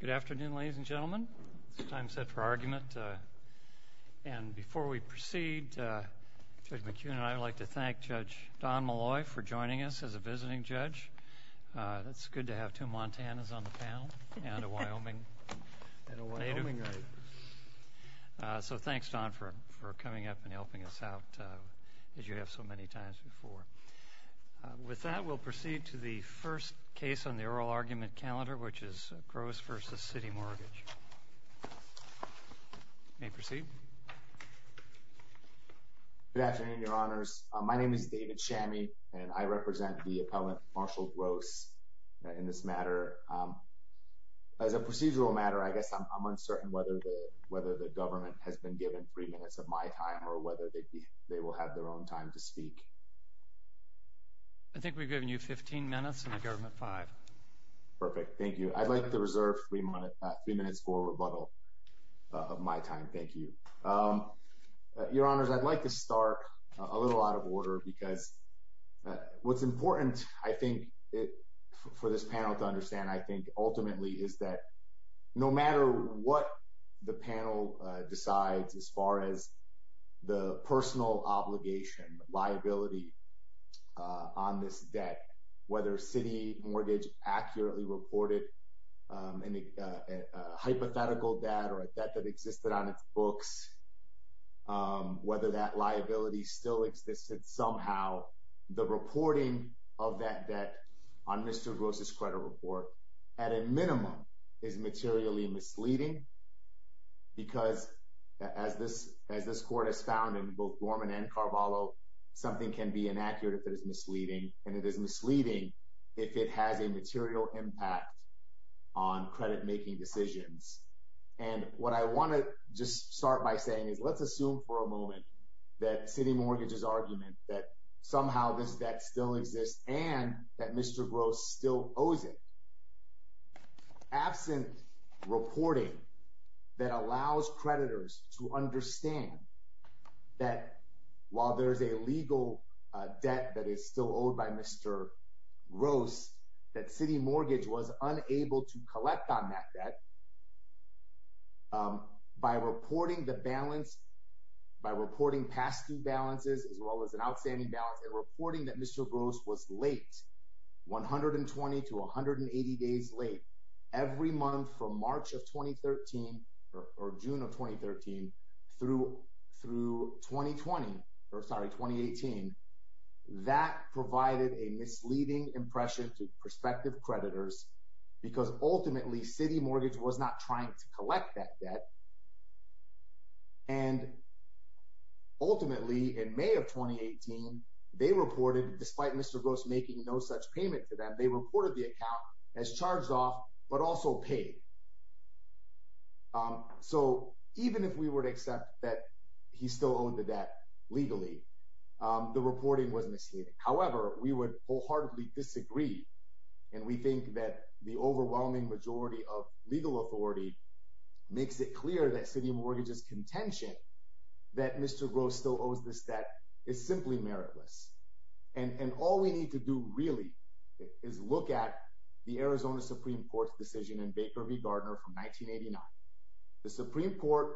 Good afternoon, ladies and gentlemen, it's time set for argument. And before we proceed, Judge McKeon and I would like to thank Judge Don Molloy for joining us as a visiting judge. It's good to have two Montanans on the panel and a Wyoming native. So thanks, Don, for coming up and helping us out as you have so many times before. With that, we'll proceed to the first case on the oral argument calendar, which is Gross v. CitiMortgage. You may proceed. Good afternoon, Your Honors. My name is David Shammy, and I represent the appellant, Marshall Gross, in this matter. As a procedural matter, I guess I'm uncertain whether the government has been given three minutes of my time or whether they will have their own time to speak. I think we've given you 15 minutes, and the government, five. Perfect. Thank you. I'd like to reserve three minutes for rebuttal of my time. Thank you. Your Honors, I'd like to start a little out of order because what's important, I think, for this panel to understand, I think, ultimately, is that no matter what the panel decides as far as the personal obligation, liability on this debt, whether CitiMortgage accurately reported a hypothetical debt or a debt that existed on its books, whether that liability still exists somehow, the reporting of that debt on Mr. Gross' credit report at a minimum is materially misleading because, as this Court has found in both Dorman and Carvalho, something can be inaccurate if it is misleading, and it is misleading if it has a material impact on credit-making decisions. And what I want to just start by saying is let's assume for a moment that CitiMortgage's argument that somehow this debt still exists and that Mr. Gross still owes it, absent reporting that allows creditors to understand that while there's a legal debt that is still owed by Mr. Gross, that CitiMortgage was unable to collect on that debt by reporting the balance, by reporting past due balances, as well as an outstanding balance, and reporting that Mr. Gross was late, 120 to 180 days late, every month from March of 2013 or June of misleading impression to prospective creditors because ultimately CitiMortgage was not trying to collect that debt, and ultimately in May of 2018, they reported, despite Mr. Gross making no such payment to them, they reported the account as charged off but also paid. So even if we were to accept that he still owed the debt legally, the reporting was misleading. However, we would wholeheartedly disagree, and we think that the overwhelming majority of legal authority makes it clear that CitiMortgage's contention that Mr. Gross still owes this debt is simply meritless, and all we need to do really is look at the Arizona Supreme Court's decision in Baker v. Gardner from 1989. The Supreme Court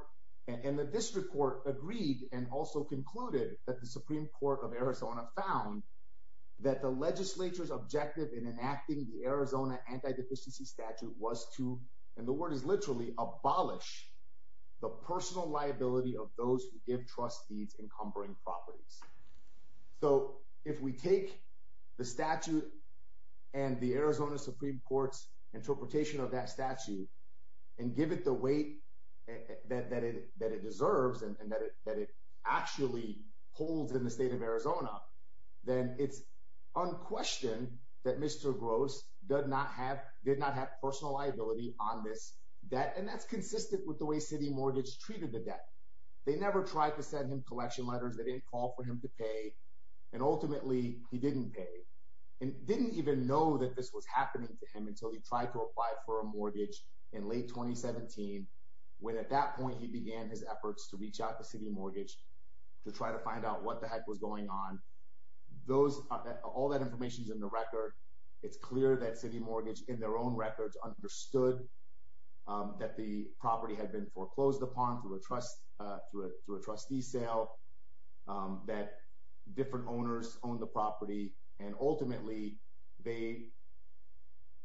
and the District Court agreed and also concluded that the Supreme Court of Arizona found that the legislature's objective in enacting the Arizona Anti-Deficiency Statute was to, and the word is literally, abolish the personal liability of those who give trust deeds encumbering properties. So if we take the statute and the Arizona Supreme Court's interpretation of that statute and give it the weight that it deserves and that it actually holds in the state of Arizona, then it's unquestioned that Mr. Gross did not have personal liability on this debt, and that's consistent with the way CitiMortgage treated the debt. They never tried to send him collection letters, they didn't call for him to pay, and ultimately he didn't pay, and didn't even know that this was happening to him until he tried to apply for a mortgage in late 2017, when at that point he began his efforts to reach out to CitiMortgage to try to find out what the heck was going on. All that information's in the record. It's clear that CitiMortgage, in their own records, understood that the property had been foreclosed upon through a trustee sale, that different owners owned the property, and ultimately they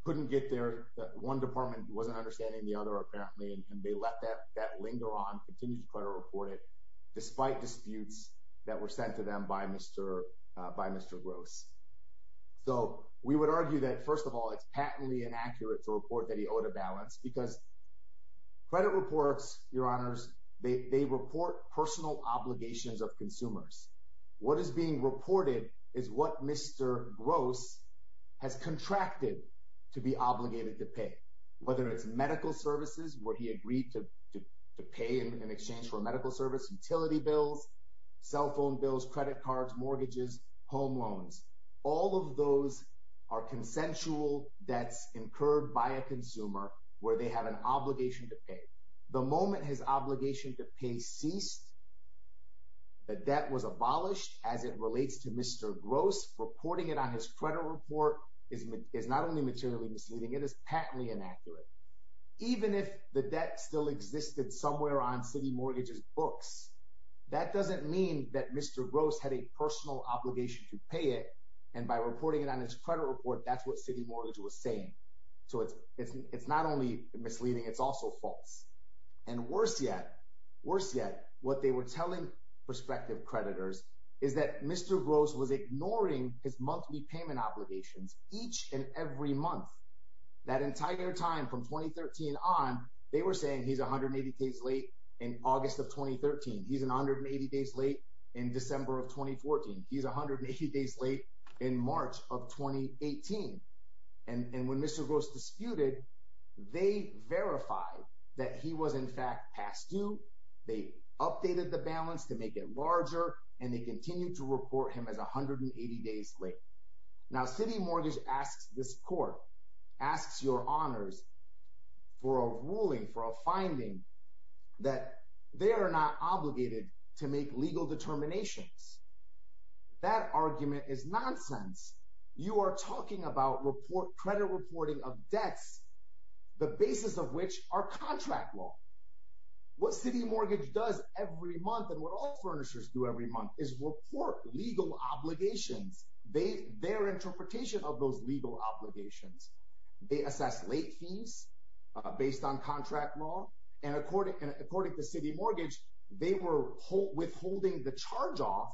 couldn't get there, that one department wasn't understanding the other apparently, and they let that linger on, continued to try to report it, despite disputes that were sent to them by Mr. Gross. So we would argue that, first of all, it's patently inaccurate to report that he owed a balance, because credit reports, Your Honors, they report personal obligations of consumers. What is being reported is what Mr. Gross has contracted to be obligated to pay, whether it's medical services where he agreed to pay in exchange for medical service, utility bills, cell phone bills, credit cards, mortgages, home loans, all of those are consensual debts incurred by a consumer where they have an obligation to pay. The moment his obligation to pay ceased, the debt was abolished, as it relates to Mr. Gross. Reporting it on his credit report is not only materially misleading, it is patently inaccurate. Even if the debt still existed somewhere on CitiMortgage's books, that doesn't mean that Mr. Gross had a personal obligation to pay it, and by reporting it on his credit report, that's what CitiMortgage was saying. So it's not only misleading, it's also false. And worse yet, what they were telling prospective creditors is that Mr. Gross was ignoring his monthly payment obligations each and every month. That entire time from 2013 on, they were saying he's 180 days late in August of 2013. He's 180 days late in December of 2014. He's 180 days late in March of 2018. And when Mr. Gross disputed, they verified that he was in fact past due, they updated the balance to make it larger, and they continued to report him as 180 days late. Now CitiMortgage asks this court, asks your honors, for a ruling, for a finding that they are not obligated to make legal determinations. That argument is nonsense. You are talking about credit reporting of debts, the basis of which are contract law. What CitiMortgage does every month, and what all furnishers do every month, is report legal obligations, their interpretation of those legal obligations. They assess late fees based on contract law, and according to CitiMortgage, they were withholding the charge-off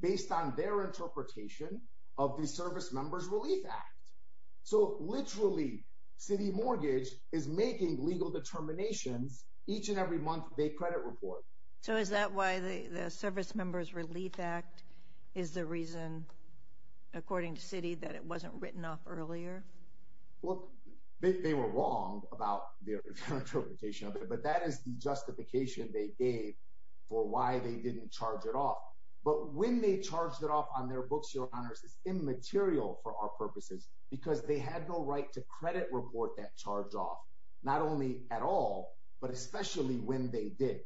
based on their interpretation of the Servicemembers Relief Act. So literally, CitiMortgage is making legal determinations each and every month they credit report. So is that why the Servicemembers Relief Act is the reason, according to Citi, that it wasn't written off earlier? Well, they were wrong about their interpretation of it, but that is the justification they gave for why they didn't charge it off. But when they charged it off on their books, your honors, it's immaterial for our purposes because they had no right to credit report that charge-off, not only at all, but especially when they did.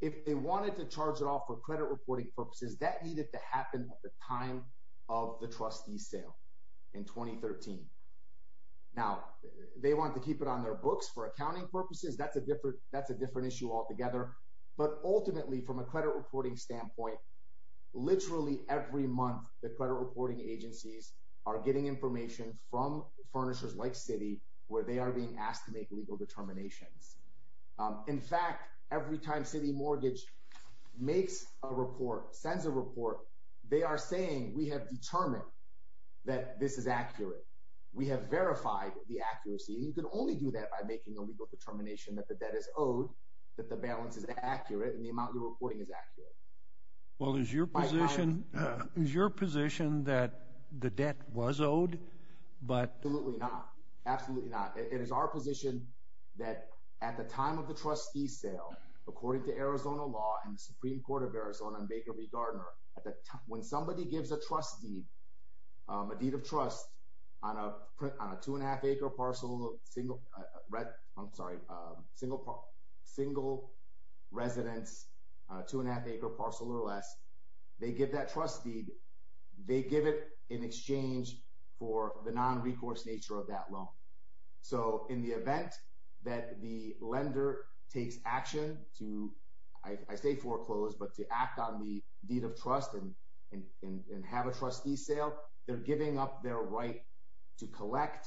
If they wanted to charge it off for credit reporting purposes, that needed to happen at the time of the trustee sale in 2013. Now they want to keep it on their books for accounting purposes. That's a different issue altogether. But ultimately, from a credit reporting standpoint, literally every month the credit reporting agencies are getting information from furnishers like Citi where they are being asked to make legal determinations. In fact, every time CitiMortgage makes a report, sends a report, they are saying, we have determined that this is accurate. We have verified the accuracy, and you can only do that by making a legal determination that the debt is owed, that the balance is accurate, and the amount you're reporting is accurate. Well, is your position that the debt was owed, but... Absolutely not. Absolutely not. It is our position that at the time of the trustee sale, according to Arizona law and the Supreme Court of Arizona and Baker v. Gardner, when somebody gives a trust deed, a deed of trust on a 2 1⁄2 acre parcel, single residence, 2 1⁄2 acre parcel or less, they give that trust deed, they give it in exchange for the non-recourse nature of that loan. So, in the event that the lender takes action to, I say foreclose, but to act on the deed of trust and have a trustee sale, they're giving up their right to collect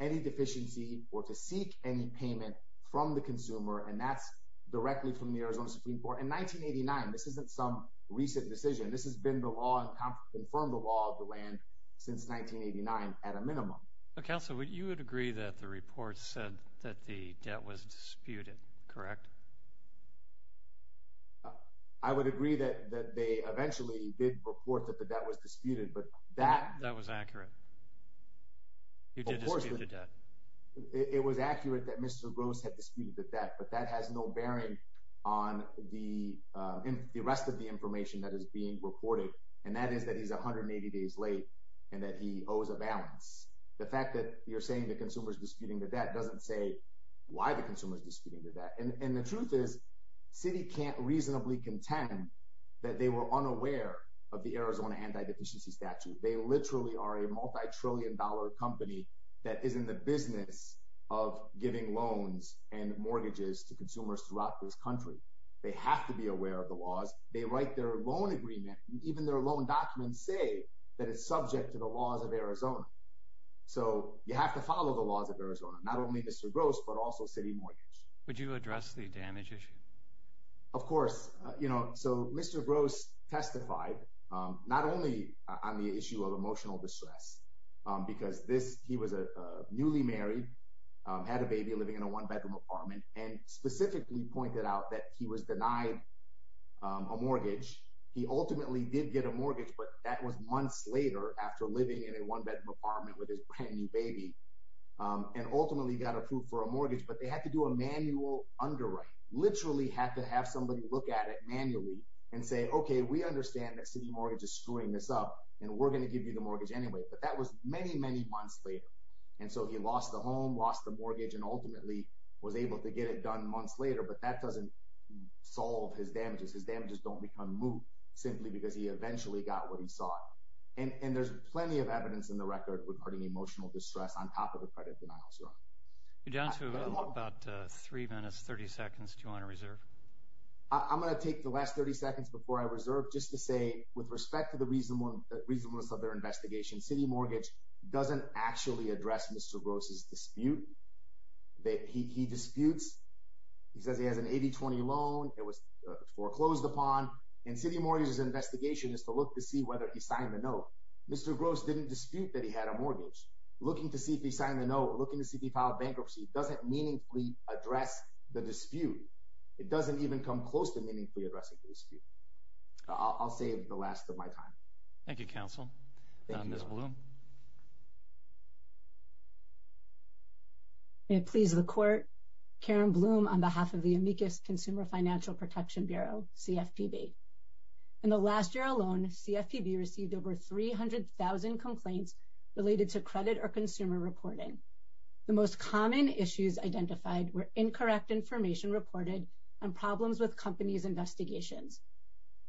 any deficiency or to seek any payment from the consumer, and that's directly from the Arizona Supreme Court. In 1989, this isn't some recent decision. This has been the law and confirmed the law of the land since 1989 at a minimum. Counsel, you would agree that the report said that the debt was disputed, correct? I would agree that they eventually did report that the debt was disputed, but that— That was accurate. You did dispute the debt. Of course. It was accurate that Mr. Gross had disputed the debt, but that has no bearing on the rest of the information that is being reported, and that is that he's 180 days late and that he owes a balance. The fact that you're saying the consumer's disputing the debt doesn't say why the consumer's disputing the debt. And the truth is, Citi can't reasonably contend that they were unaware of the Arizona Anti-Deficiency Statute. They literally are a multi-trillion dollar company that is in the business of giving loans and mortgages to consumers throughout this country. They have to be aware of the laws. They write their loan agreement, and even their loan documents say that it's subject to the laws of Arizona. So you have to follow the laws of Arizona, not only Mr. Gross, but also Citi Mortgage. Would you address the damage issue? Of course. So Mr. Gross testified, not only on the issue of emotional distress, because he was newly married, had a baby, living in a one-bedroom apartment, and specifically pointed out that he was denied a mortgage. He ultimately did get a mortgage, but that was months later after living in a one-bedroom apartment with his brand-new baby, and ultimately got approved for a mortgage. But they had to do a manual underwriting. Literally had to have somebody look at it manually and say, okay, we understand that Citi Mortgage is screwing this up, and we're going to give you the mortgage anyway. But that was many, many months later. And so he lost the home, lost the mortgage, and ultimately was able to get it done months later, but that doesn't solve his damages. His damages don't become moot simply because he eventually got what he sought. And there's plenty of evidence in the record regarding emotional distress on top of the credit denials. John, we've got about three minutes, 30 seconds, do you want to reserve? I'm going to take the last 30 seconds before I reserve just to say, with respect to the reasonableness of their investigation, Citi Mortgage doesn't actually address Mr. Gross's dispute. He disputes. He says he has an 80-20 loan that was foreclosed upon, and Citi Mortgage's investigation is to look to see whether he signed the note. Mr. Gross didn't dispute that he had a mortgage. Looking to see if he signed the note, looking to see if he filed bankruptcy doesn't meaningfully address the dispute. It doesn't even come close to meaningfully addressing the dispute. I'll save the last of my time. Thank you, counsel. Thank you, Mr. Blum. May it please the Court, Karen Blum on behalf of the Amicus Consumer Financial Protection Bureau, CFPB. In the last year alone, CFPB received over 300,000 complaints related to credit or consumer reporting. The most common issues identified were incorrect information reported and problems with companies' investigations.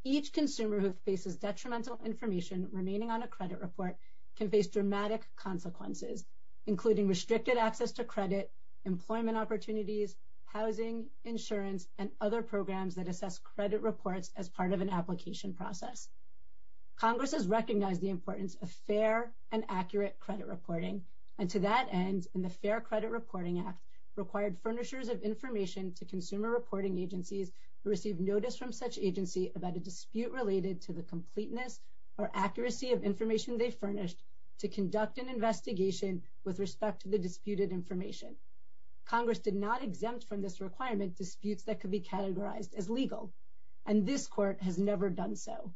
Each consumer who faces detrimental information remaining on a credit report can face dramatic consequences, including restricted access to credit, employment opportunities, housing, insurance, and other programs that assess credit reports as part of an application process. Congress has recognized the importance of fair and accurate credit reporting, and to that end, the Fair Credit Reporting Act required furnishers of information to consumer reporting agencies who received notice from such agency about a dispute related to the completeness or accuracy of information they furnished to conduct an investigation with respect to the disputed information. Congress did not exempt from this requirement disputes that could be categorized as legal, and this Court has never done so.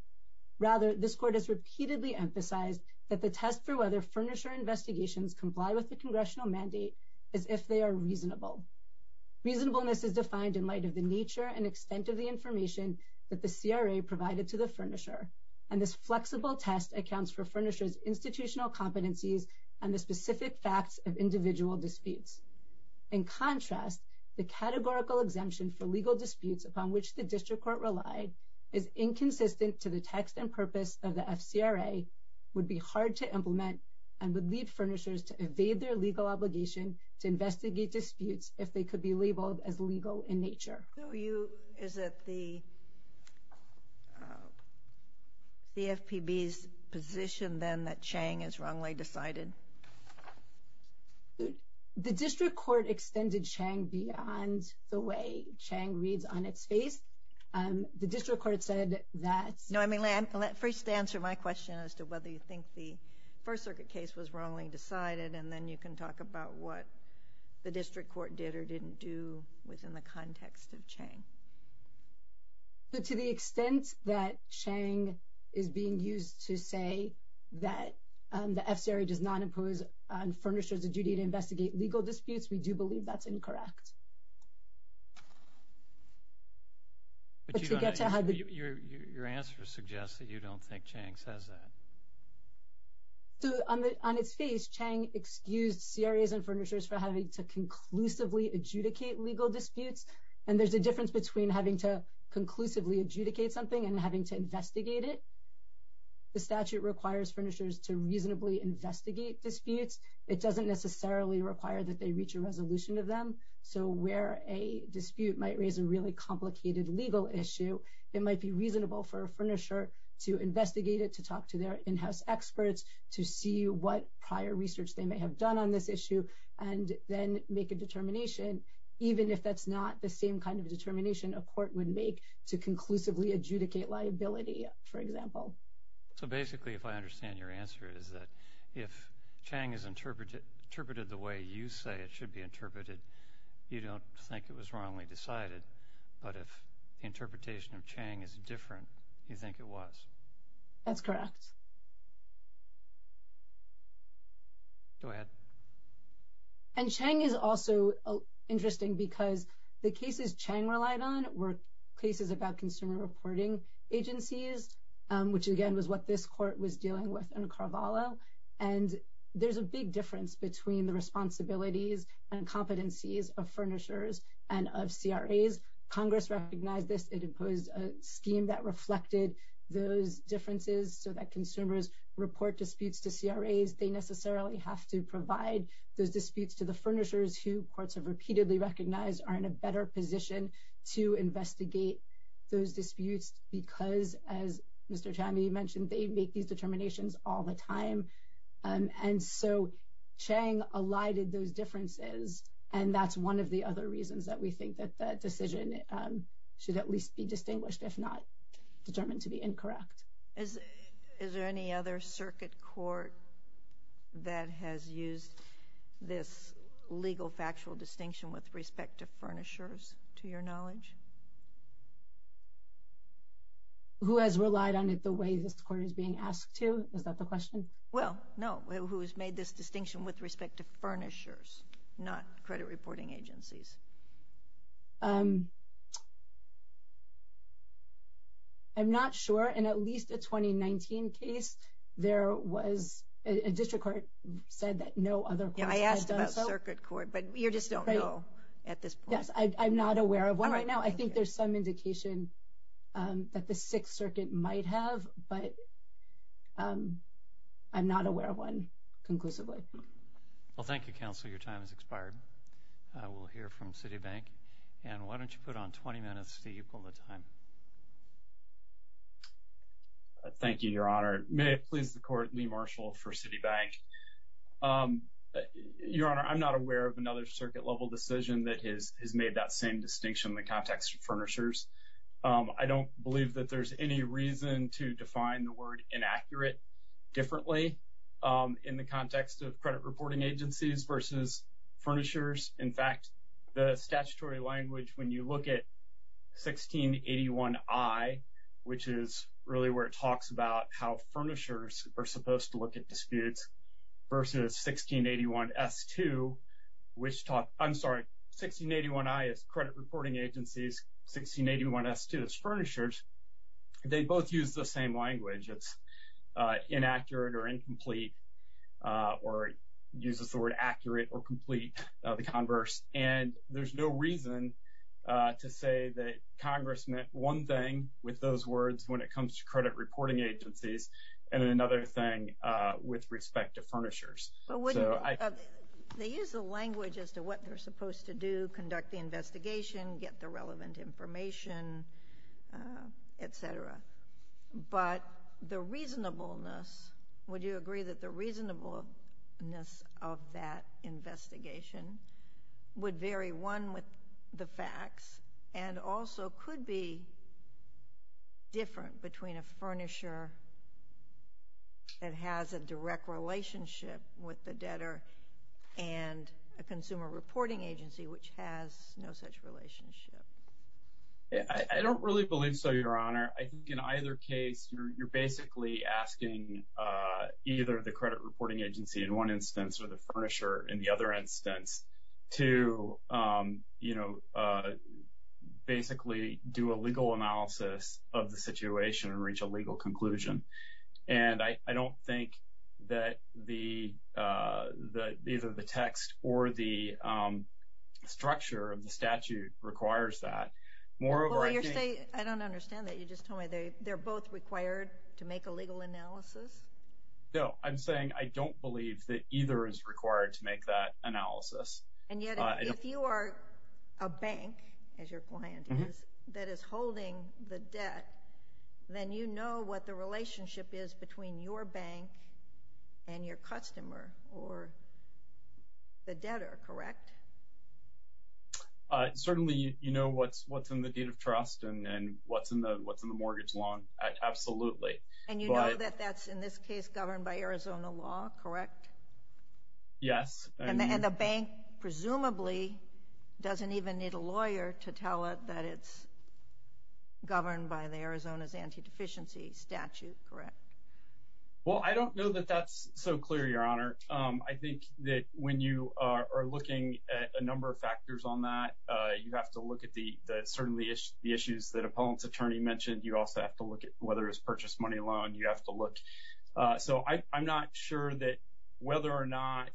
Rather, this Court has repeatedly emphasized that the test for whether furnisher investigations comply with the congressional mandate is if they are reasonable. Reasonableness is defined in light of the nature and extent of the information that the CRA provided to the furnisher, and this flexible test accounts for furnishers' institutional competencies and the specific facts of individual disputes. In contrast, the categorical exemption for legal disputes upon which the District Court relied is inconsistent to the text and purpose of the FCRA, would be hard to implement, and would lead furnishers to evade their legal obligation to investigate disputes if they could be labeled as legal in nature. So you, is it the CFPB's position then that Chang is wrongly decided? The District Court extended Chang beyond the way Chang reads on its face. The District Court said that... No, I mean, first answer my question as to whether you think the First Circuit case was wrongly decided, and then you can talk about what the District Court did or didn't do within the context of Chang. To the extent that Chang is being used to say that the FCRA does not impose on furnishers the duty to investigate legal disputes, we do believe that's incorrect. Your answer suggests that you don't think Chang says that. On its face, Chang excused CRAs and furnishers for having to conclusively adjudicate legal disputes, and there's a difference between having to conclusively adjudicate something and having to investigate it. The statute requires furnishers to reasonably investigate disputes. It doesn't necessarily require that they reach a resolution of them. So where a dispute might raise a really complicated legal issue, it might be reasonable for a furnisher to investigate it, to talk to their in-house experts, to see what prior research they may have done on this issue, and then make a determination, even if that's not the same kind of determination a court would make, to conclusively adjudicate liability, for example. So basically, if I understand your answer, it is that if Chang is interpreted the way you say it should be interpreted, you don't think it was wrongly decided, but if the interpretation of Chang is different, you think it was. That's correct. Go ahead. And Chang is also interesting because the cases Chang relied on were cases about consumer reporting agencies, which again was what this court was dealing with in Carvalho, and there's a big difference between the responsibilities and competencies of furnishers and of CRAs. Congress recognized this. It imposed a scheme that reflected those differences so that consumers report disputes to CRAs. They necessarily have to provide those disputes to the furnishers who courts have repeatedly recognized are in a better position to investigate those disputes because, as Mr. Chami mentioned, they make these determinations all the time. And so Chang elided those differences, and that's one of the other reasons that we think that that decision should at least be distinguished, if not determined to be incorrect. Is there any other circuit court that has used this legal factual distinction with respect to furnishers, to your knowledge? Who has relied on it the way this court is being asked to? Is that the question? Well, no. Who has made this distinction with respect to furnishers, not credit reporting agencies? I'm not sure. In at least a 2019 case, there was a district court said that no other court has done so. Yeah, I asked about circuit court, but you just don't know at this point. Yes, I'm not aware of one right now. I think there's some indication that the Sixth Circuit might have, but I'm not aware of one conclusively. Well, thank you, counsel. Your time has expired. We'll hear from Citibank. And why don't you put on 20 minutes to equal the time? Thank you, Your Honor. May it please the Court, Lee Marshall for Citibank. Your Honor, I'm not aware of another circuit-level decision that has made that same distinction in the context of furnishers. I don't believe that there's any reason to define the word inaccurate differently in the context of credit reporting agencies versus furnishers. In fact, the statutory language, when you look at 1681I, which is really where it talks about how furnishers are supposed to look at disputes, versus 1681S2, which talk—I'm sorry, credit reporting agencies, 1681S2 is furnishers, they both use the same language. It's inaccurate or incomplete, or uses the word accurate or complete, the converse. And there's no reason to say that Congress meant one thing with those words when it comes to credit reporting agencies, and then another thing with respect to furnishers. So I— I don't have the relevant information, et cetera, but the reasonableness—would you agree that the reasonableness of that investigation would vary, one, with the facts, and also could be different between a furnisher that has a direct relationship with the debtor and a consumer reporting agency, which has no such relationship? I don't really believe so, Your Honor. I think in either case, you're basically asking either the credit reporting agency in one instance or the furnisher in the other instance to, you know, basically do a legal analysis of the situation and reach a legal conclusion. And I don't think that the—either the text or the structure of the statute requires that. Moreover, I think— Well, you're saying—I don't understand that. You just told me they're both required to make a legal analysis? No, I'm saying I don't believe that either is required to make that analysis. And yet, if you are a bank, as your client is, that is holding the debt, then you know what the relationship is between your bank and your customer, or the debtor, correct? Certainly, you know what's in the date of trust and what's in the mortgage loan, absolutely. And you know that that's, in this case, governed by Arizona law, correct? Yes. And the bank, presumably, doesn't even need a lawyer to tell it that it's governed by the Arizona's anti-deficiency statute, correct? Well, I don't know that that's so clear, Your Honor. I think that when you are looking at a number of factors on that, you have to look at the certainly the issues that Appellant's attorney mentioned. You also have to look at whether it's a purchased money loan. You have to look. So I'm not sure that whether or not,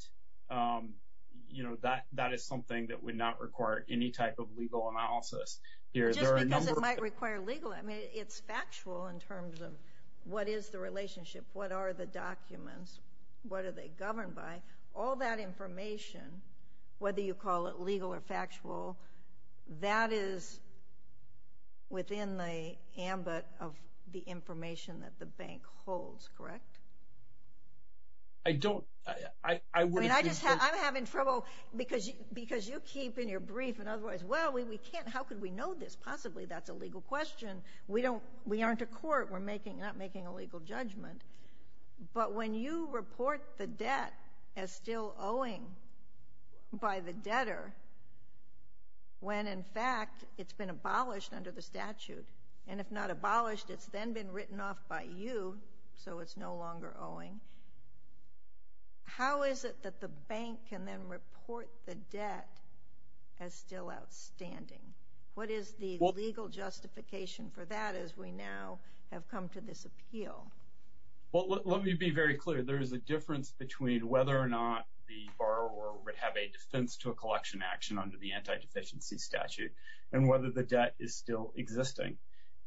you know, that is something that would not require any type of legal analysis. Just because it might require legal, I mean, it's factual in terms of what is the relationship, what are the documents, what are they governed by. All that information, whether you call it legal or factual, that is within the ambit of the information that the bank holds, correct? I don't, I wouldn't think so. I'm having trouble because you keep in your brief and otherwise, well, we can't, how could we know this? Possibly that's a legal question. We don't, we aren't a court, we're making, not making a legal judgment. But when you report the debt as still owing by the debtor, when in fact it's been abolished under the statute, and if not abolished, it's then been written off by you, so it's no longer outstanding. What is the legal justification for that as we now have come to this appeal? Well, let me be very clear. There is a difference between whether or not the borrower would have a defense to a collection action under the anti-deficiency statute and whether the debt is still existing.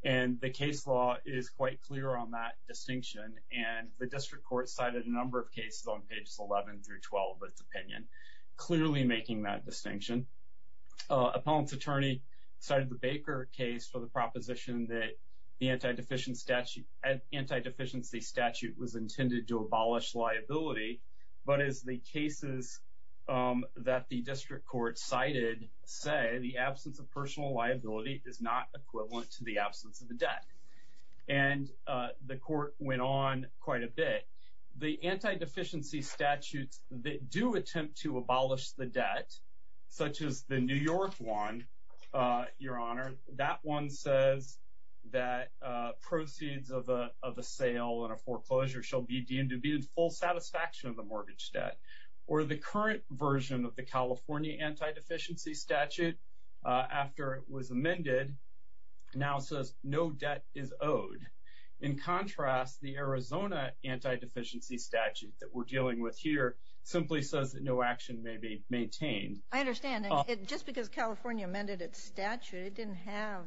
And the case law is quite clear on that distinction, and the district court cited a number of cases on pages 11 through 12 of its opinion, clearly making that distinction. Appellant's attorney cited the Baker case for the proposition that the anti-deficiency statute was intended to abolish liability, but as the cases that the district court cited say the absence of personal liability is not equivalent to the absence of the debt. And the court went on quite a bit. The anti-deficiency statutes that do attempt to abolish the debt, such as the New York one, Your Honor, that one says that proceeds of a sale and a foreclosure shall be deemed to be in full satisfaction of the mortgage debt, or the current version of the California anti-deficiency statute, after it was amended, now says no debt is owed. In contrast, the Arizona anti-deficiency statute that we're dealing with here simply says that no action may be maintained. I understand. Just because California amended its statute, it didn't have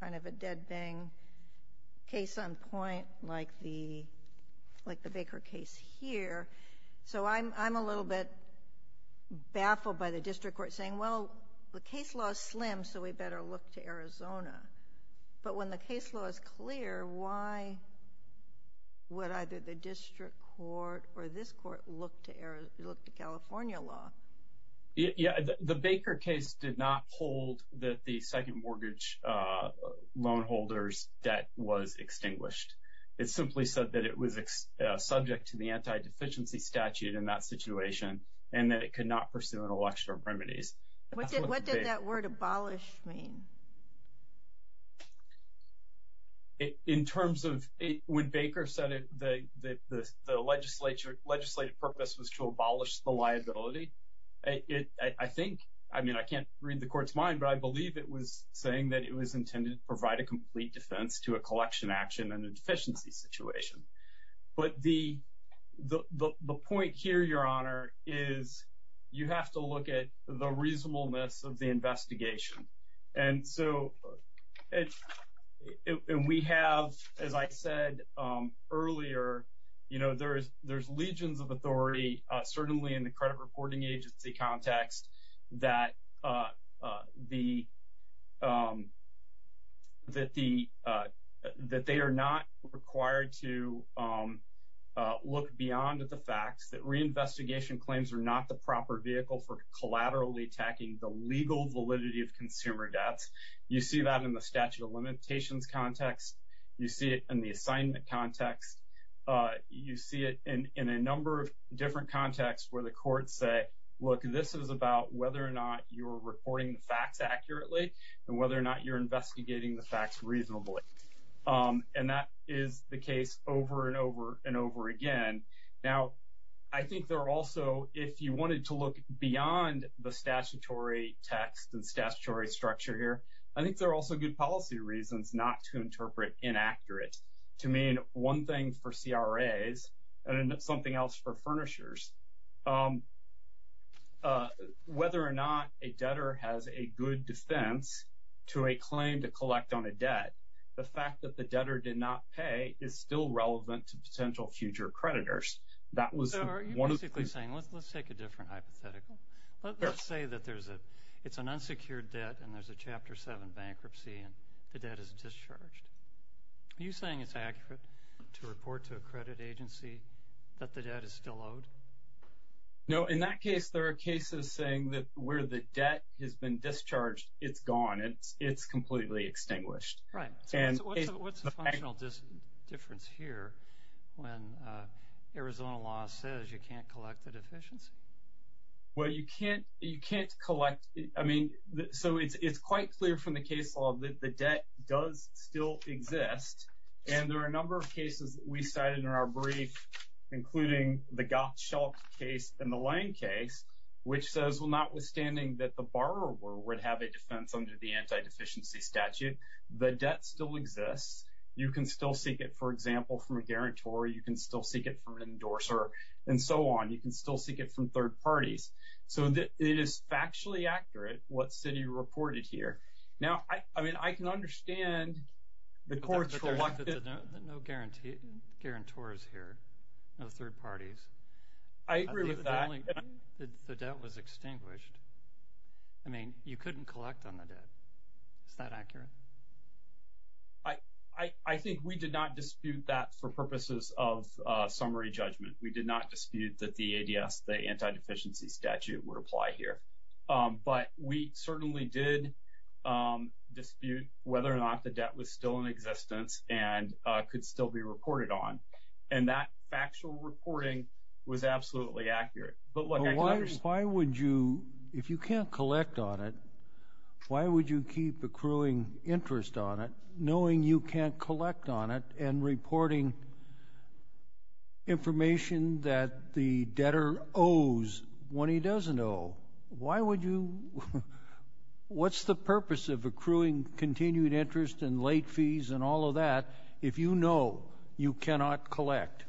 kind of a dead bang case on point like the Baker case here. So I'm a little bit baffled by the district court saying, well, the case law is slim, so we better look to Arizona. But when the case law is clear, why would either the district court or this court look to California law? Yeah, the Baker case did not hold that the second mortgage loan holder's debt was extinguished. It simply said that it was subject to the anti-deficiency statute in that situation and that it could not pursue an election of remedies. What did that word abolish mean? In terms of, when Baker said the legislative purpose was to abolish the liability, I think, I mean, I can't read the court's mind, but I believe it was saying that it was intended to provide a complete defense to a collection action and a deficiency situation. But the point here, Your Honor, is you have to look at the reasonableness of the investigation. And so, and we have, as I said earlier, you know, there's legions of authority, certainly in the credit reporting agency context, that the, that they are not required to look beyond the facts, that reinvestigation claims are not the proper vehicle for collaterally attacking the legal validity of consumer debts. You see that in the statute of limitations context. You see it in the assignment context. You see it in a number of different contexts where the courts say, look, this is about whether or not you're reporting the facts accurately and whether or not you're investigating the facts reasonably. And that is the case over and over and over again. Now, I think there are also, if you wanted to look beyond the statutory text and statutory structure here, I think there are also good policy reasons not to interpret inaccurate. To me, one thing for CRAs and something else for furnishers, whether or not a debtor has a good defense to a claim to collect on a debt, the fact that the debtor did not pay is still relevant to potential future creditors. That was one of the- So, are you basically saying, let's take a different hypothetical? Sure. Let's say that there's a, it's an unsecured debt and there's a Chapter 7 bankruptcy and the debt is discharged. Are you saying it's accurate to report to a credit agency that the debt is still owed? No. In that case, there are cases saying that where the debt has been discharged, it's gone. It's completely extinguished. Right. So, what's the functional difference here when Arizona law says you can't collect the deficiency? Well, you can't collect, I mean, so it's quite clear from the case law that the debt does still exist and there are a number of cases that we cited in our brief, including the Gottschalk case and the Lane case, which says, well, notwithstanding that the borrower would have a defense under the anti-deficiency statute, the debt still exists. You can still seek it, for example, from a guarantor. You can still seek it from an endorser and so on. You can still seek it from third parties. So it is factually accurate what Citi reported here. Now, I mean, I can understand the court's reluctance. No guarantors here, no third parties. I agree with that. The debt was extinguished. I mean, you couldn't collect on the debt. Is that accurate? I think we did not dispute that for purposes of summary judgment. We did not dispute that the ADS, the anti-deficiency statute, would apply here. But we certainly did dispute whether or not the debt was still in existence and could still be reported on. And that factual reporting was absolutely accurate. But look, I can understand. Why would you, if you can't collect on it, why would you keep accruing interest on it, knowing you can't collect on it, and reporting information that the debtor owes when he doesn't owe? Why would you? What's the purpose of accruing continued interest and late fees and all of that if you know you cannot collect?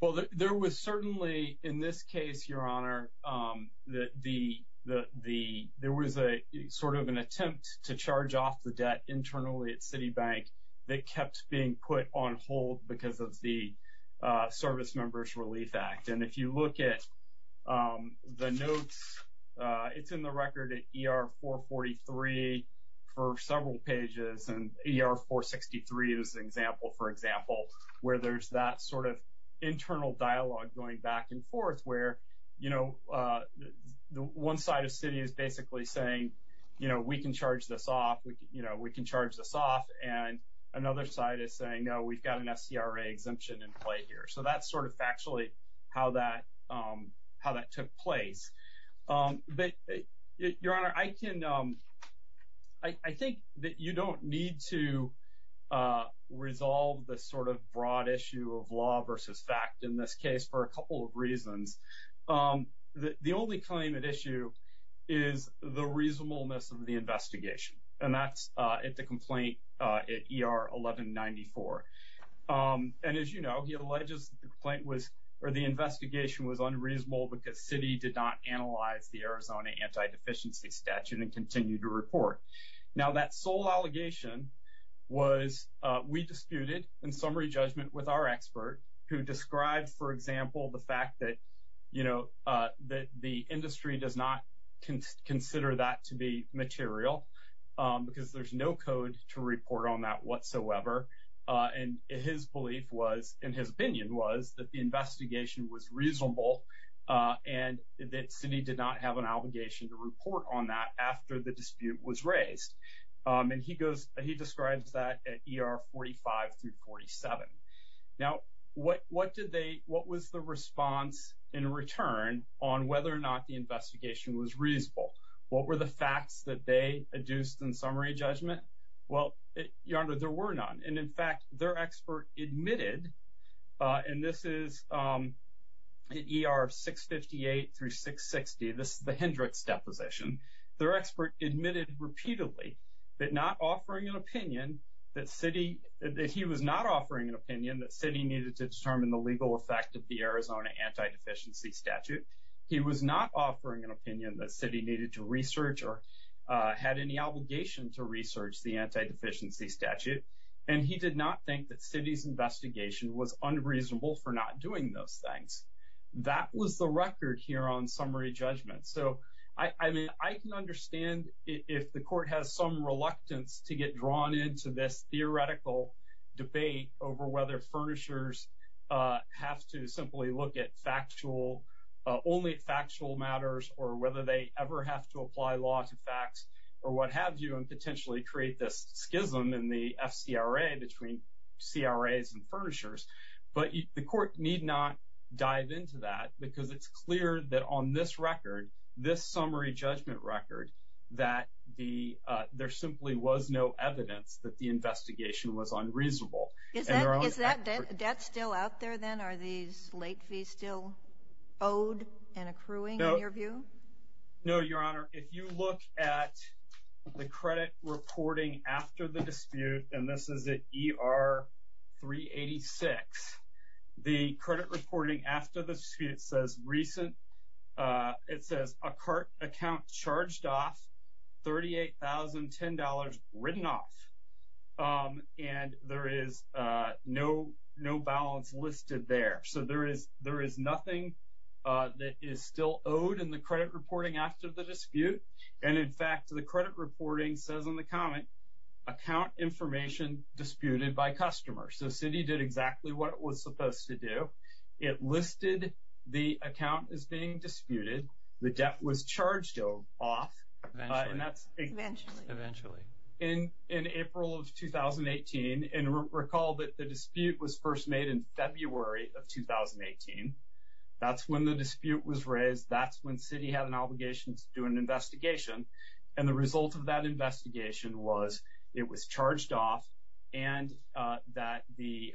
Well, there was certainly, in this case, Your Honor, there was sort of an attempt to charge off the debt internally at Citi Bank that kept being put on hold because of the Servicemembers Relief Act. And if you look at the notes, it's in the record at ER-443 for several pages, and ER-463 is an example, for example, where there's that sort of internal dialogue going back and forth where, you know, one side of Citi is basically saying, you know, we can charge this off, you know, we can charge this off. And another side is saying, no, we've got an SCRA exemption in play here. So that's sort of factually how that took place. But, Your Honor, I can, I think that you don't need to resolve the sort of broad issue of law versus fact in this case for a couple of reasons. The only claim at issue is the reasonableness of the investigation, and that's at the complaint at ER-1194. And as you know, he alleges the complaint was, or the investigation was unreasonable because Citi did not analyze the Arizona anti-deficiency statute and continue to report. Now that sole allegation was we disputed in summary judgment with our expert who described, for example, the fact that, you know, that the industry does not consider that to be And his belief was, in his opinion, was that the investigation was reasonable and that Citi did not have an obligation to report on that after the dispute was raised. And he goes, he describes that at ER-45 through 47. Now what did they, what was the response in return on whether or not the investigation was reasonable? What were the facts that they adduced in summary judgment? Well, Your Honor, there were none. And in fact, their expert admitted, and this is at ER-658 through 660, this is the Hendricks deposition, their expert admitted repeatedly that not offering an opinion that Citi, that he was not offering an opinion that Citi needed to determine the legal effect of the Arizona anti-deficiency statute. He was not offering an opinion that Citi needed to research or had any obligation to research the anti-deficiency statute. And he did not think that Citi's investigation was unreasonable for not doing those things. That was the record here on summary judgment. So I mean, I can understand if the court has some reluctance to get drawn into this theoretical debate over whether furnishers have to simply look at factual, only factual matters or whether they ever have to apply law to facts or what have you and potentially create this schism in the FCRA between CRAs and furnishers. But the court need not dive into that because it's clear that on this record, this summary judgment record, that there simply was no evidence that the investigation was unreasonable. Is that debt still out there then? Are these late fees still owed and accruing in your view? No, Your Honor. If you look at the credit reporting after the dispute, and this is at ER 386, the credit reporting after the dispute says recent, it says a cart account charged off $38,010 written off, and there is no balance listed there. So there is nothing that is still owed in the credit reporting after the dispute. And in fact, the credit reporting says in the comment, account information disputed by customer. So Citi did exactly what it was supposed to do. It listed the account as being disputed. The debt was charged off. Eventually. Eventually. Eventually. In April of 2018, and recall that the dispute was first made in February of 2018. That's when the dispute was raised. That's when Citi had an obligation to do an investigation. And the result of that investigation was it was charged off and that the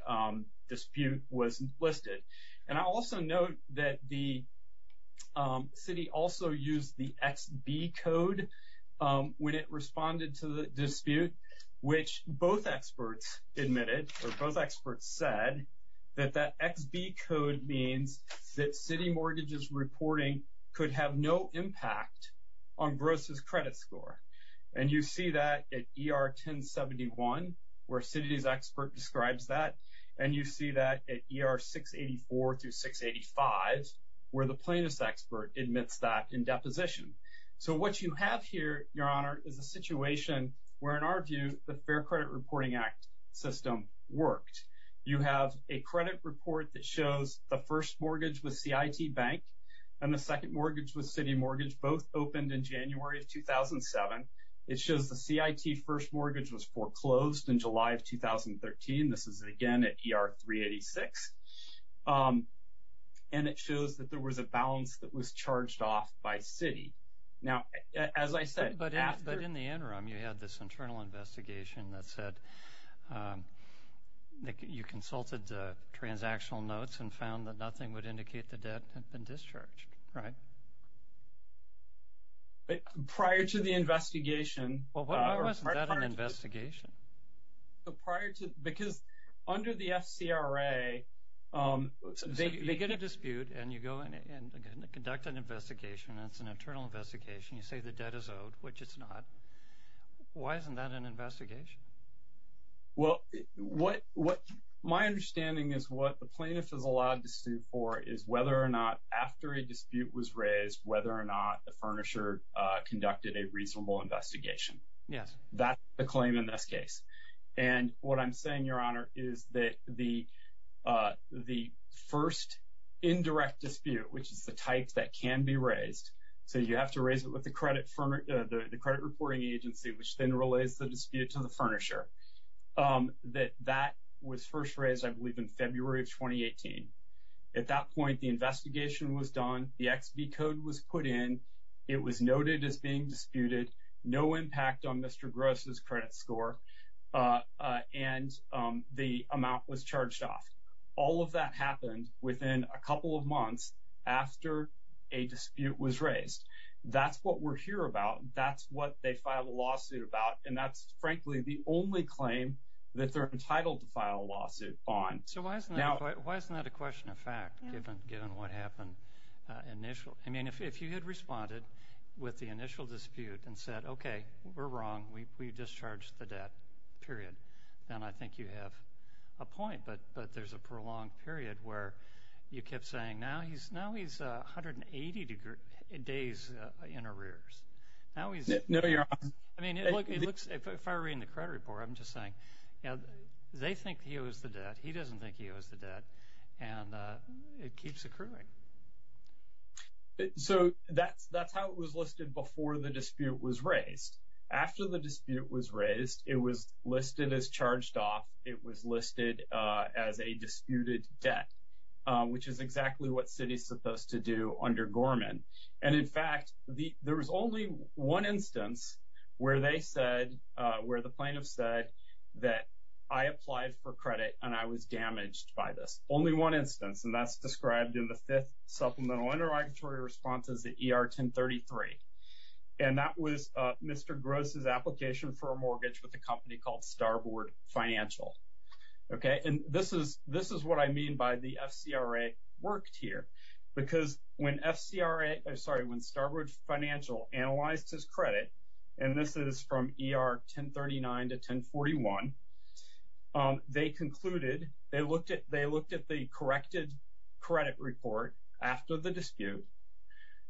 dispute was listed. And I also note that the Citi also used the XB code when it responded to the dispute, which both experts admitted, or both experts said, that that XB code means that Citi mortgages reporting could have no impact on Gross's credit score. And you see that at ER 1071, where Citi's expert describes that. And you see that at ER 684 through 685, where the plaintiff's expert admits that in deposition. So what you have here, Your Honor, is a situation where, in our view, the Fair Credit Reporting Act system worked. You have a credit report that shows the first mortgage with CIT Bank and the second mortgage with Citi Mortgage both opened in January of 2007. It shows the CIT first mortgage was foreclosed in July of 2013. This is, again, at ER 386. And it shows that there was a balance that was charged off by Citi. Now, as I said, after- But in the interim, you had this internal investigation that said that you consulted the transactional notes and found that nothing would indicate the debt had been discharged, right? Prior to the investigation- Well, why wasn't that an investigation? Prior to- Because under the FCRA, they get a dispute and you go in and conduct an investigation. It's an internal investigation. You say the debt is owed, which it's not. Why isn't that an investigation? Well, what my understanding is what the plaintiff is allowed to sue for is whether or not, after a dispute was raised, whether or not the furnisher conducted a reasonable investigation. Yes. That's the claim in this case. And what I'm saying, Your Honor, is that the first indirect dispute, which is the type that can be raised, so you have to raise it with the credit reporting agency, which then relays the dispute to the furnisher, that that was first raised, I believe, in February of 2018. At that point, the investigation was done. The XB code was put in. It was noted as being disputed. No impact on Mr. Gross's credit score. And the amount was charged off. All of that happened within a couple of months after a dispute was raised. That's what we're here about. That's what they filed a lawsuit about. And that's, frankly, the only claim that they're entitled to file a lawsuit on. So why isn't that a question of fact, given what happened initially? I mean, if you had responded with the initial dispute and said, okay, we're wrong, we discharged the debt, period, then I think you have a point. But there's a prolonged period where you kept saying, now he's 180 days in arrears. Now he's- No, Your Honor. I mean, it looks, if I were reading the credit report, I'm just saying, they think he owes the debt. He doesn't think he owes the debt. And it keeps accruing. So that's how it was listed before the dispute was raised. After the dispute was raised, it was listed as charged off. It was listed as a disputed debt, which is exactly what Citi's supposed to do under Gorman. And in fact, there was only one instance where they said, where the plaintiff said that I applied for credit and I was damaged by this. Only one instance. And that's described in the Fifth Supplemental Interrogatory Response as the ER-1033. And that was Mr. Gross' application for a mortgage with a company called Starboard Financial. And this is what I mean by the FCRA worked here. Because when Starboard Financial analyzed his credit, and this is from ER-1039 to 1041, they concluded, they looked at the corrected credit report after the dispute.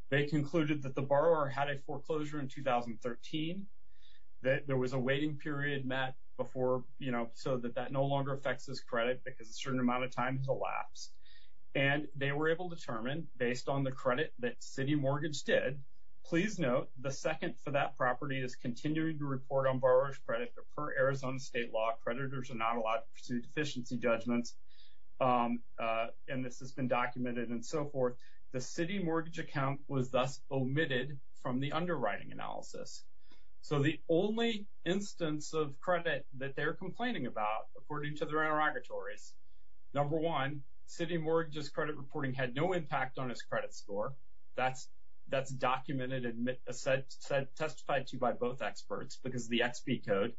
They concluded that the borrower had a foreclosure in 2013, that there was a waiting period met before, you know, so that that no longer affects his credit because a certain amount of time has elapsed. And they were able to determine, based on the credit that Citi Mortgage did, please note the second for that property is continuing to report on borrower's credit per Arizona state law. Creditors are not allowed to pursue deficiency judgments. And this has been documented and so forth. The Citi Mortgage account was thus omitted from the underwriting analysis. So the only instance of credit that they're complaining about, according to their interrogatories, number one, Citi Mortgage's credit reporting had no impact on his credit score. That's documented and testified to by both experts because the XP code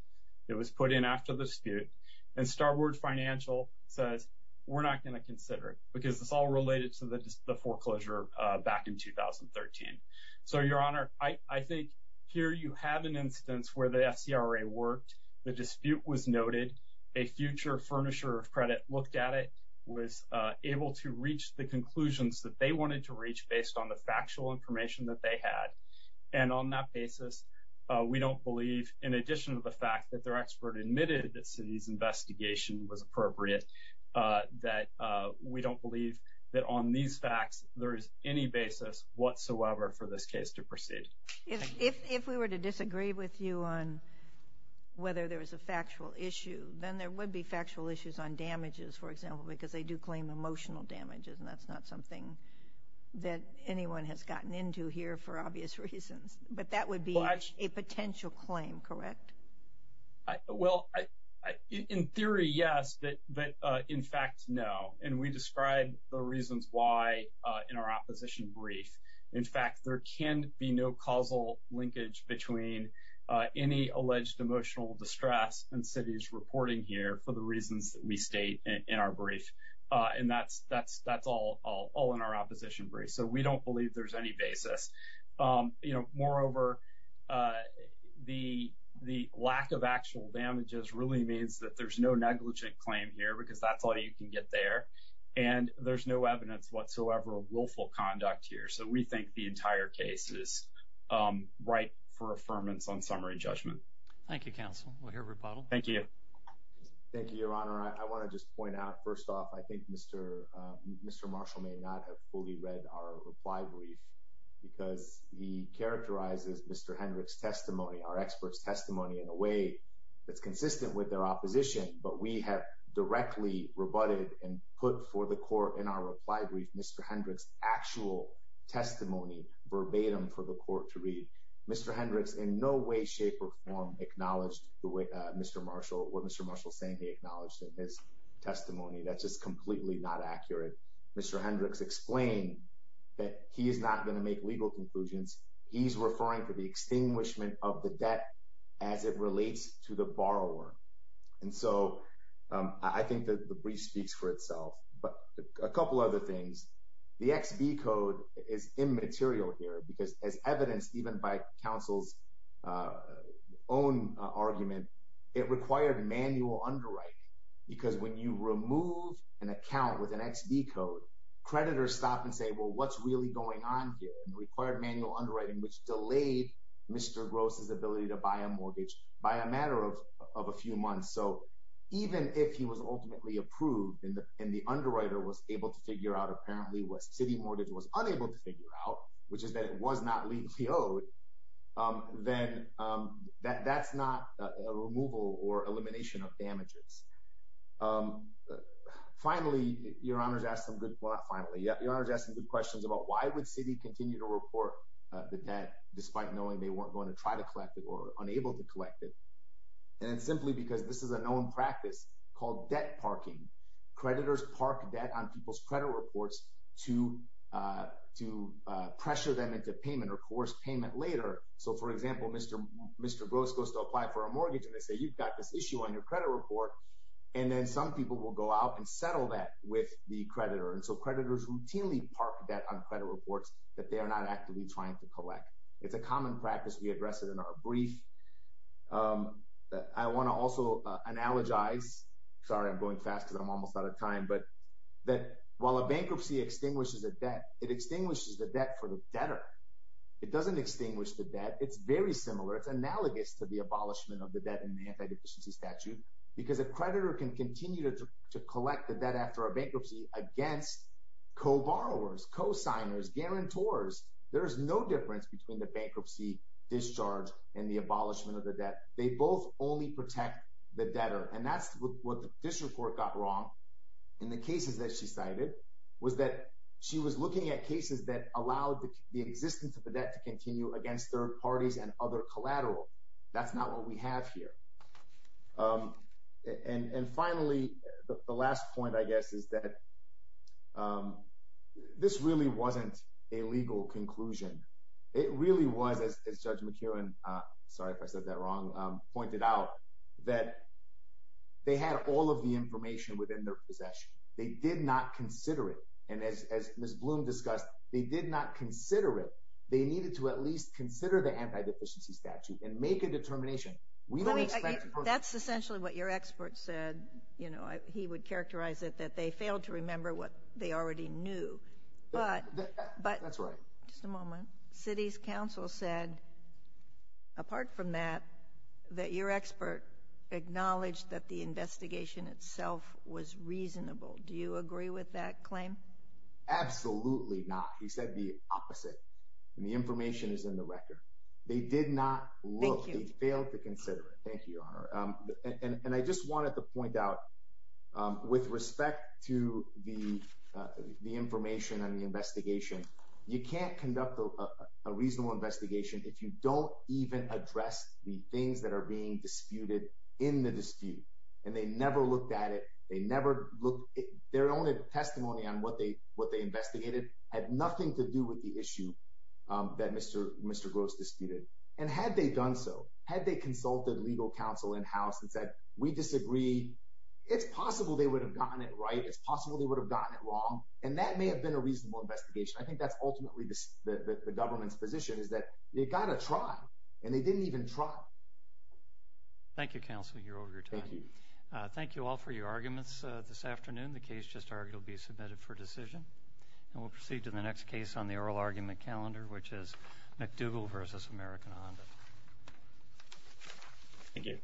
that was put in after the dispute and Starboard Financial says, we're not going to consider it because it's all related to the foreclosure back in 2013. So Your Honor, I think here you have an instance where the FCRA worked, the dispute was noted, a future furnisher of credit looked at it, was able to reach the conclusions that they wanted to reach based on the factual information that they had. And on that basis, we don't believe, in addition to the fact that their expert admitted that Citi's investigation was appropriate, that we don't believe that on these facts there is any basis whatsoever for this case to proceed. If we were to disagree with you on whether there was a factual issue, then there would be factual issues on damages, for example, because they do claim emotional damages and that's not something that anyone has gotten into here for obvious reasons. But that would be a potential claim, correct? Well, in theory, yes, but in fact, no. And we describe the reasons why in our opposition brief. In fact, there can be no causal linkage between any alleged emotional distress and Citi's reporting here for the reasons that we state in our brief. And that's all in our opposition brief. So we don't believe there's any basis. Moreover, the lack of actual damages really means that there's no negligent claim here because that's all you can get there. And there's no evidence whatsoever of willful conduct here. So we think the entire case is ripe for affirmance on summary judgment. Thank you, Counsel. Thank you. Thank you, Your Honor. I want to just point out, first off, I think Mr. Marshall may not have fully read our reply brief because he characterizes Mr. Hendricks' testimony, our expert's testimony, in a way that's consistent with their opposition. But we have directly rebutted and put for the court in our reply brief Mr. Hendricks' actual testimony verbatim for the court to read. Mr. Hendricks in no way, shape, or form acknowledged what Mr. Marshall is saying he acknowledged in his testimony. That's just completely not accurate. Mr. Hendricks explained that he is not going to make legal conclusions. He's referring to the extinguishment of the debt as it relates to the borrower. And so I think that the brief speaks for itself. But a couple other things. The XB code is immaterial here because as evidenced even by counsel's own argument, it required manual underwriting because when you remove an account with an XB code, creditors stop and say, well, what's really going on here? It required manual underwriting, which delayed Mr. Gross' ability to buy a mortgage by a matter of a few months. So even if he was ultimately approved and the underwriter was able to figure out apparently what city mortgage was unable to figure out, which is that it was not legally owed, then that's not a removal or elimination of damages. Finally, your honors asked some good questions about why would city continue to report the debt despite knowing they weren't going to try to collect it or unable to collect it. And simply because this is a known practice called debt parking. Creditors park debt on people's credit reports to pressure them into payment or coerce payment later. So for example, Mr. Gross goes to apply for a mortgage and they say, you've got this issue on your credit report, and then some people will go out and settle that with the creditor. And so creditors routinely park debt on credit reports that they are not actively trying to collect. It's a common practice. We address it in our brief. I want to also analogize, sorry, I'm going fast because I'm almost out of time, but that while a bankruptcy extinguishes a debt, it extinguishes the debt for the debtor. It doesn't extinguish the debt. It's very similar. It's analogous to the abolishment of the debt in the anti-deficiency statute because a creditor can continue to collect the debt after a bankruptcy against co-borrowers, co-signers, guarantors. There is no difference between the bankruptcy discharge and the abolishment of the debt. They both only protect the debtor. And that's what this report got wrong. And the cases that she cited was that she was looking at cases that allowed the existence of the debt to continue against third parties and other collateral. That's not what we have here. And finally, the last point, I guess, is that this really wasn't a legal conclusion. It really was, as Judge McKeown, sorry if I said that wrong, pointed out, that they had all of the information within their possession. They did not consider it. And as Ms. Bloom discussed, they did not consider it. They needed to at least consider the anti-deficiency statute and make a determination. We don't expect— That's essentially what your expert said. You know, he would characterize it that they failed to remember what they already knew. But— That's right. Just a moment. City's counsel said, apart from that, that your expert acknowledged that the investigation itself was reasonable. Do you agree with that claim? Absolutely not. He said the opposite. And the information is in the record. They did not look. Thank you. They failed to consider it. Thank you, Your Honor. And I just wanted to point out, with respect to the information and the investigation, you can't conduct a reasonable investigation if you don't even address the things that are being disputed in the dispute. And they never looked at it. They never looked. Their only testimony on what they investigated had nothing to do with the issue that Mr. Gross disputed. And had they done so, had they consulted legal counsel in-house and said, we disagree, it's possible they would have gotten it right. It's possible they would have gotten it wrong. And that may have been a reasonable investigation. I think that's ultimately the government's position, is that they got to try. And they didn't even try. Thank you, counsel. You're over your time. Thank you. Thank you all for your arguments this afternoon. The case just argued will be submitted for decision. And we'll proceed to the next case on the oral argument calendar, which is McDougall versus American Honda. Thank you.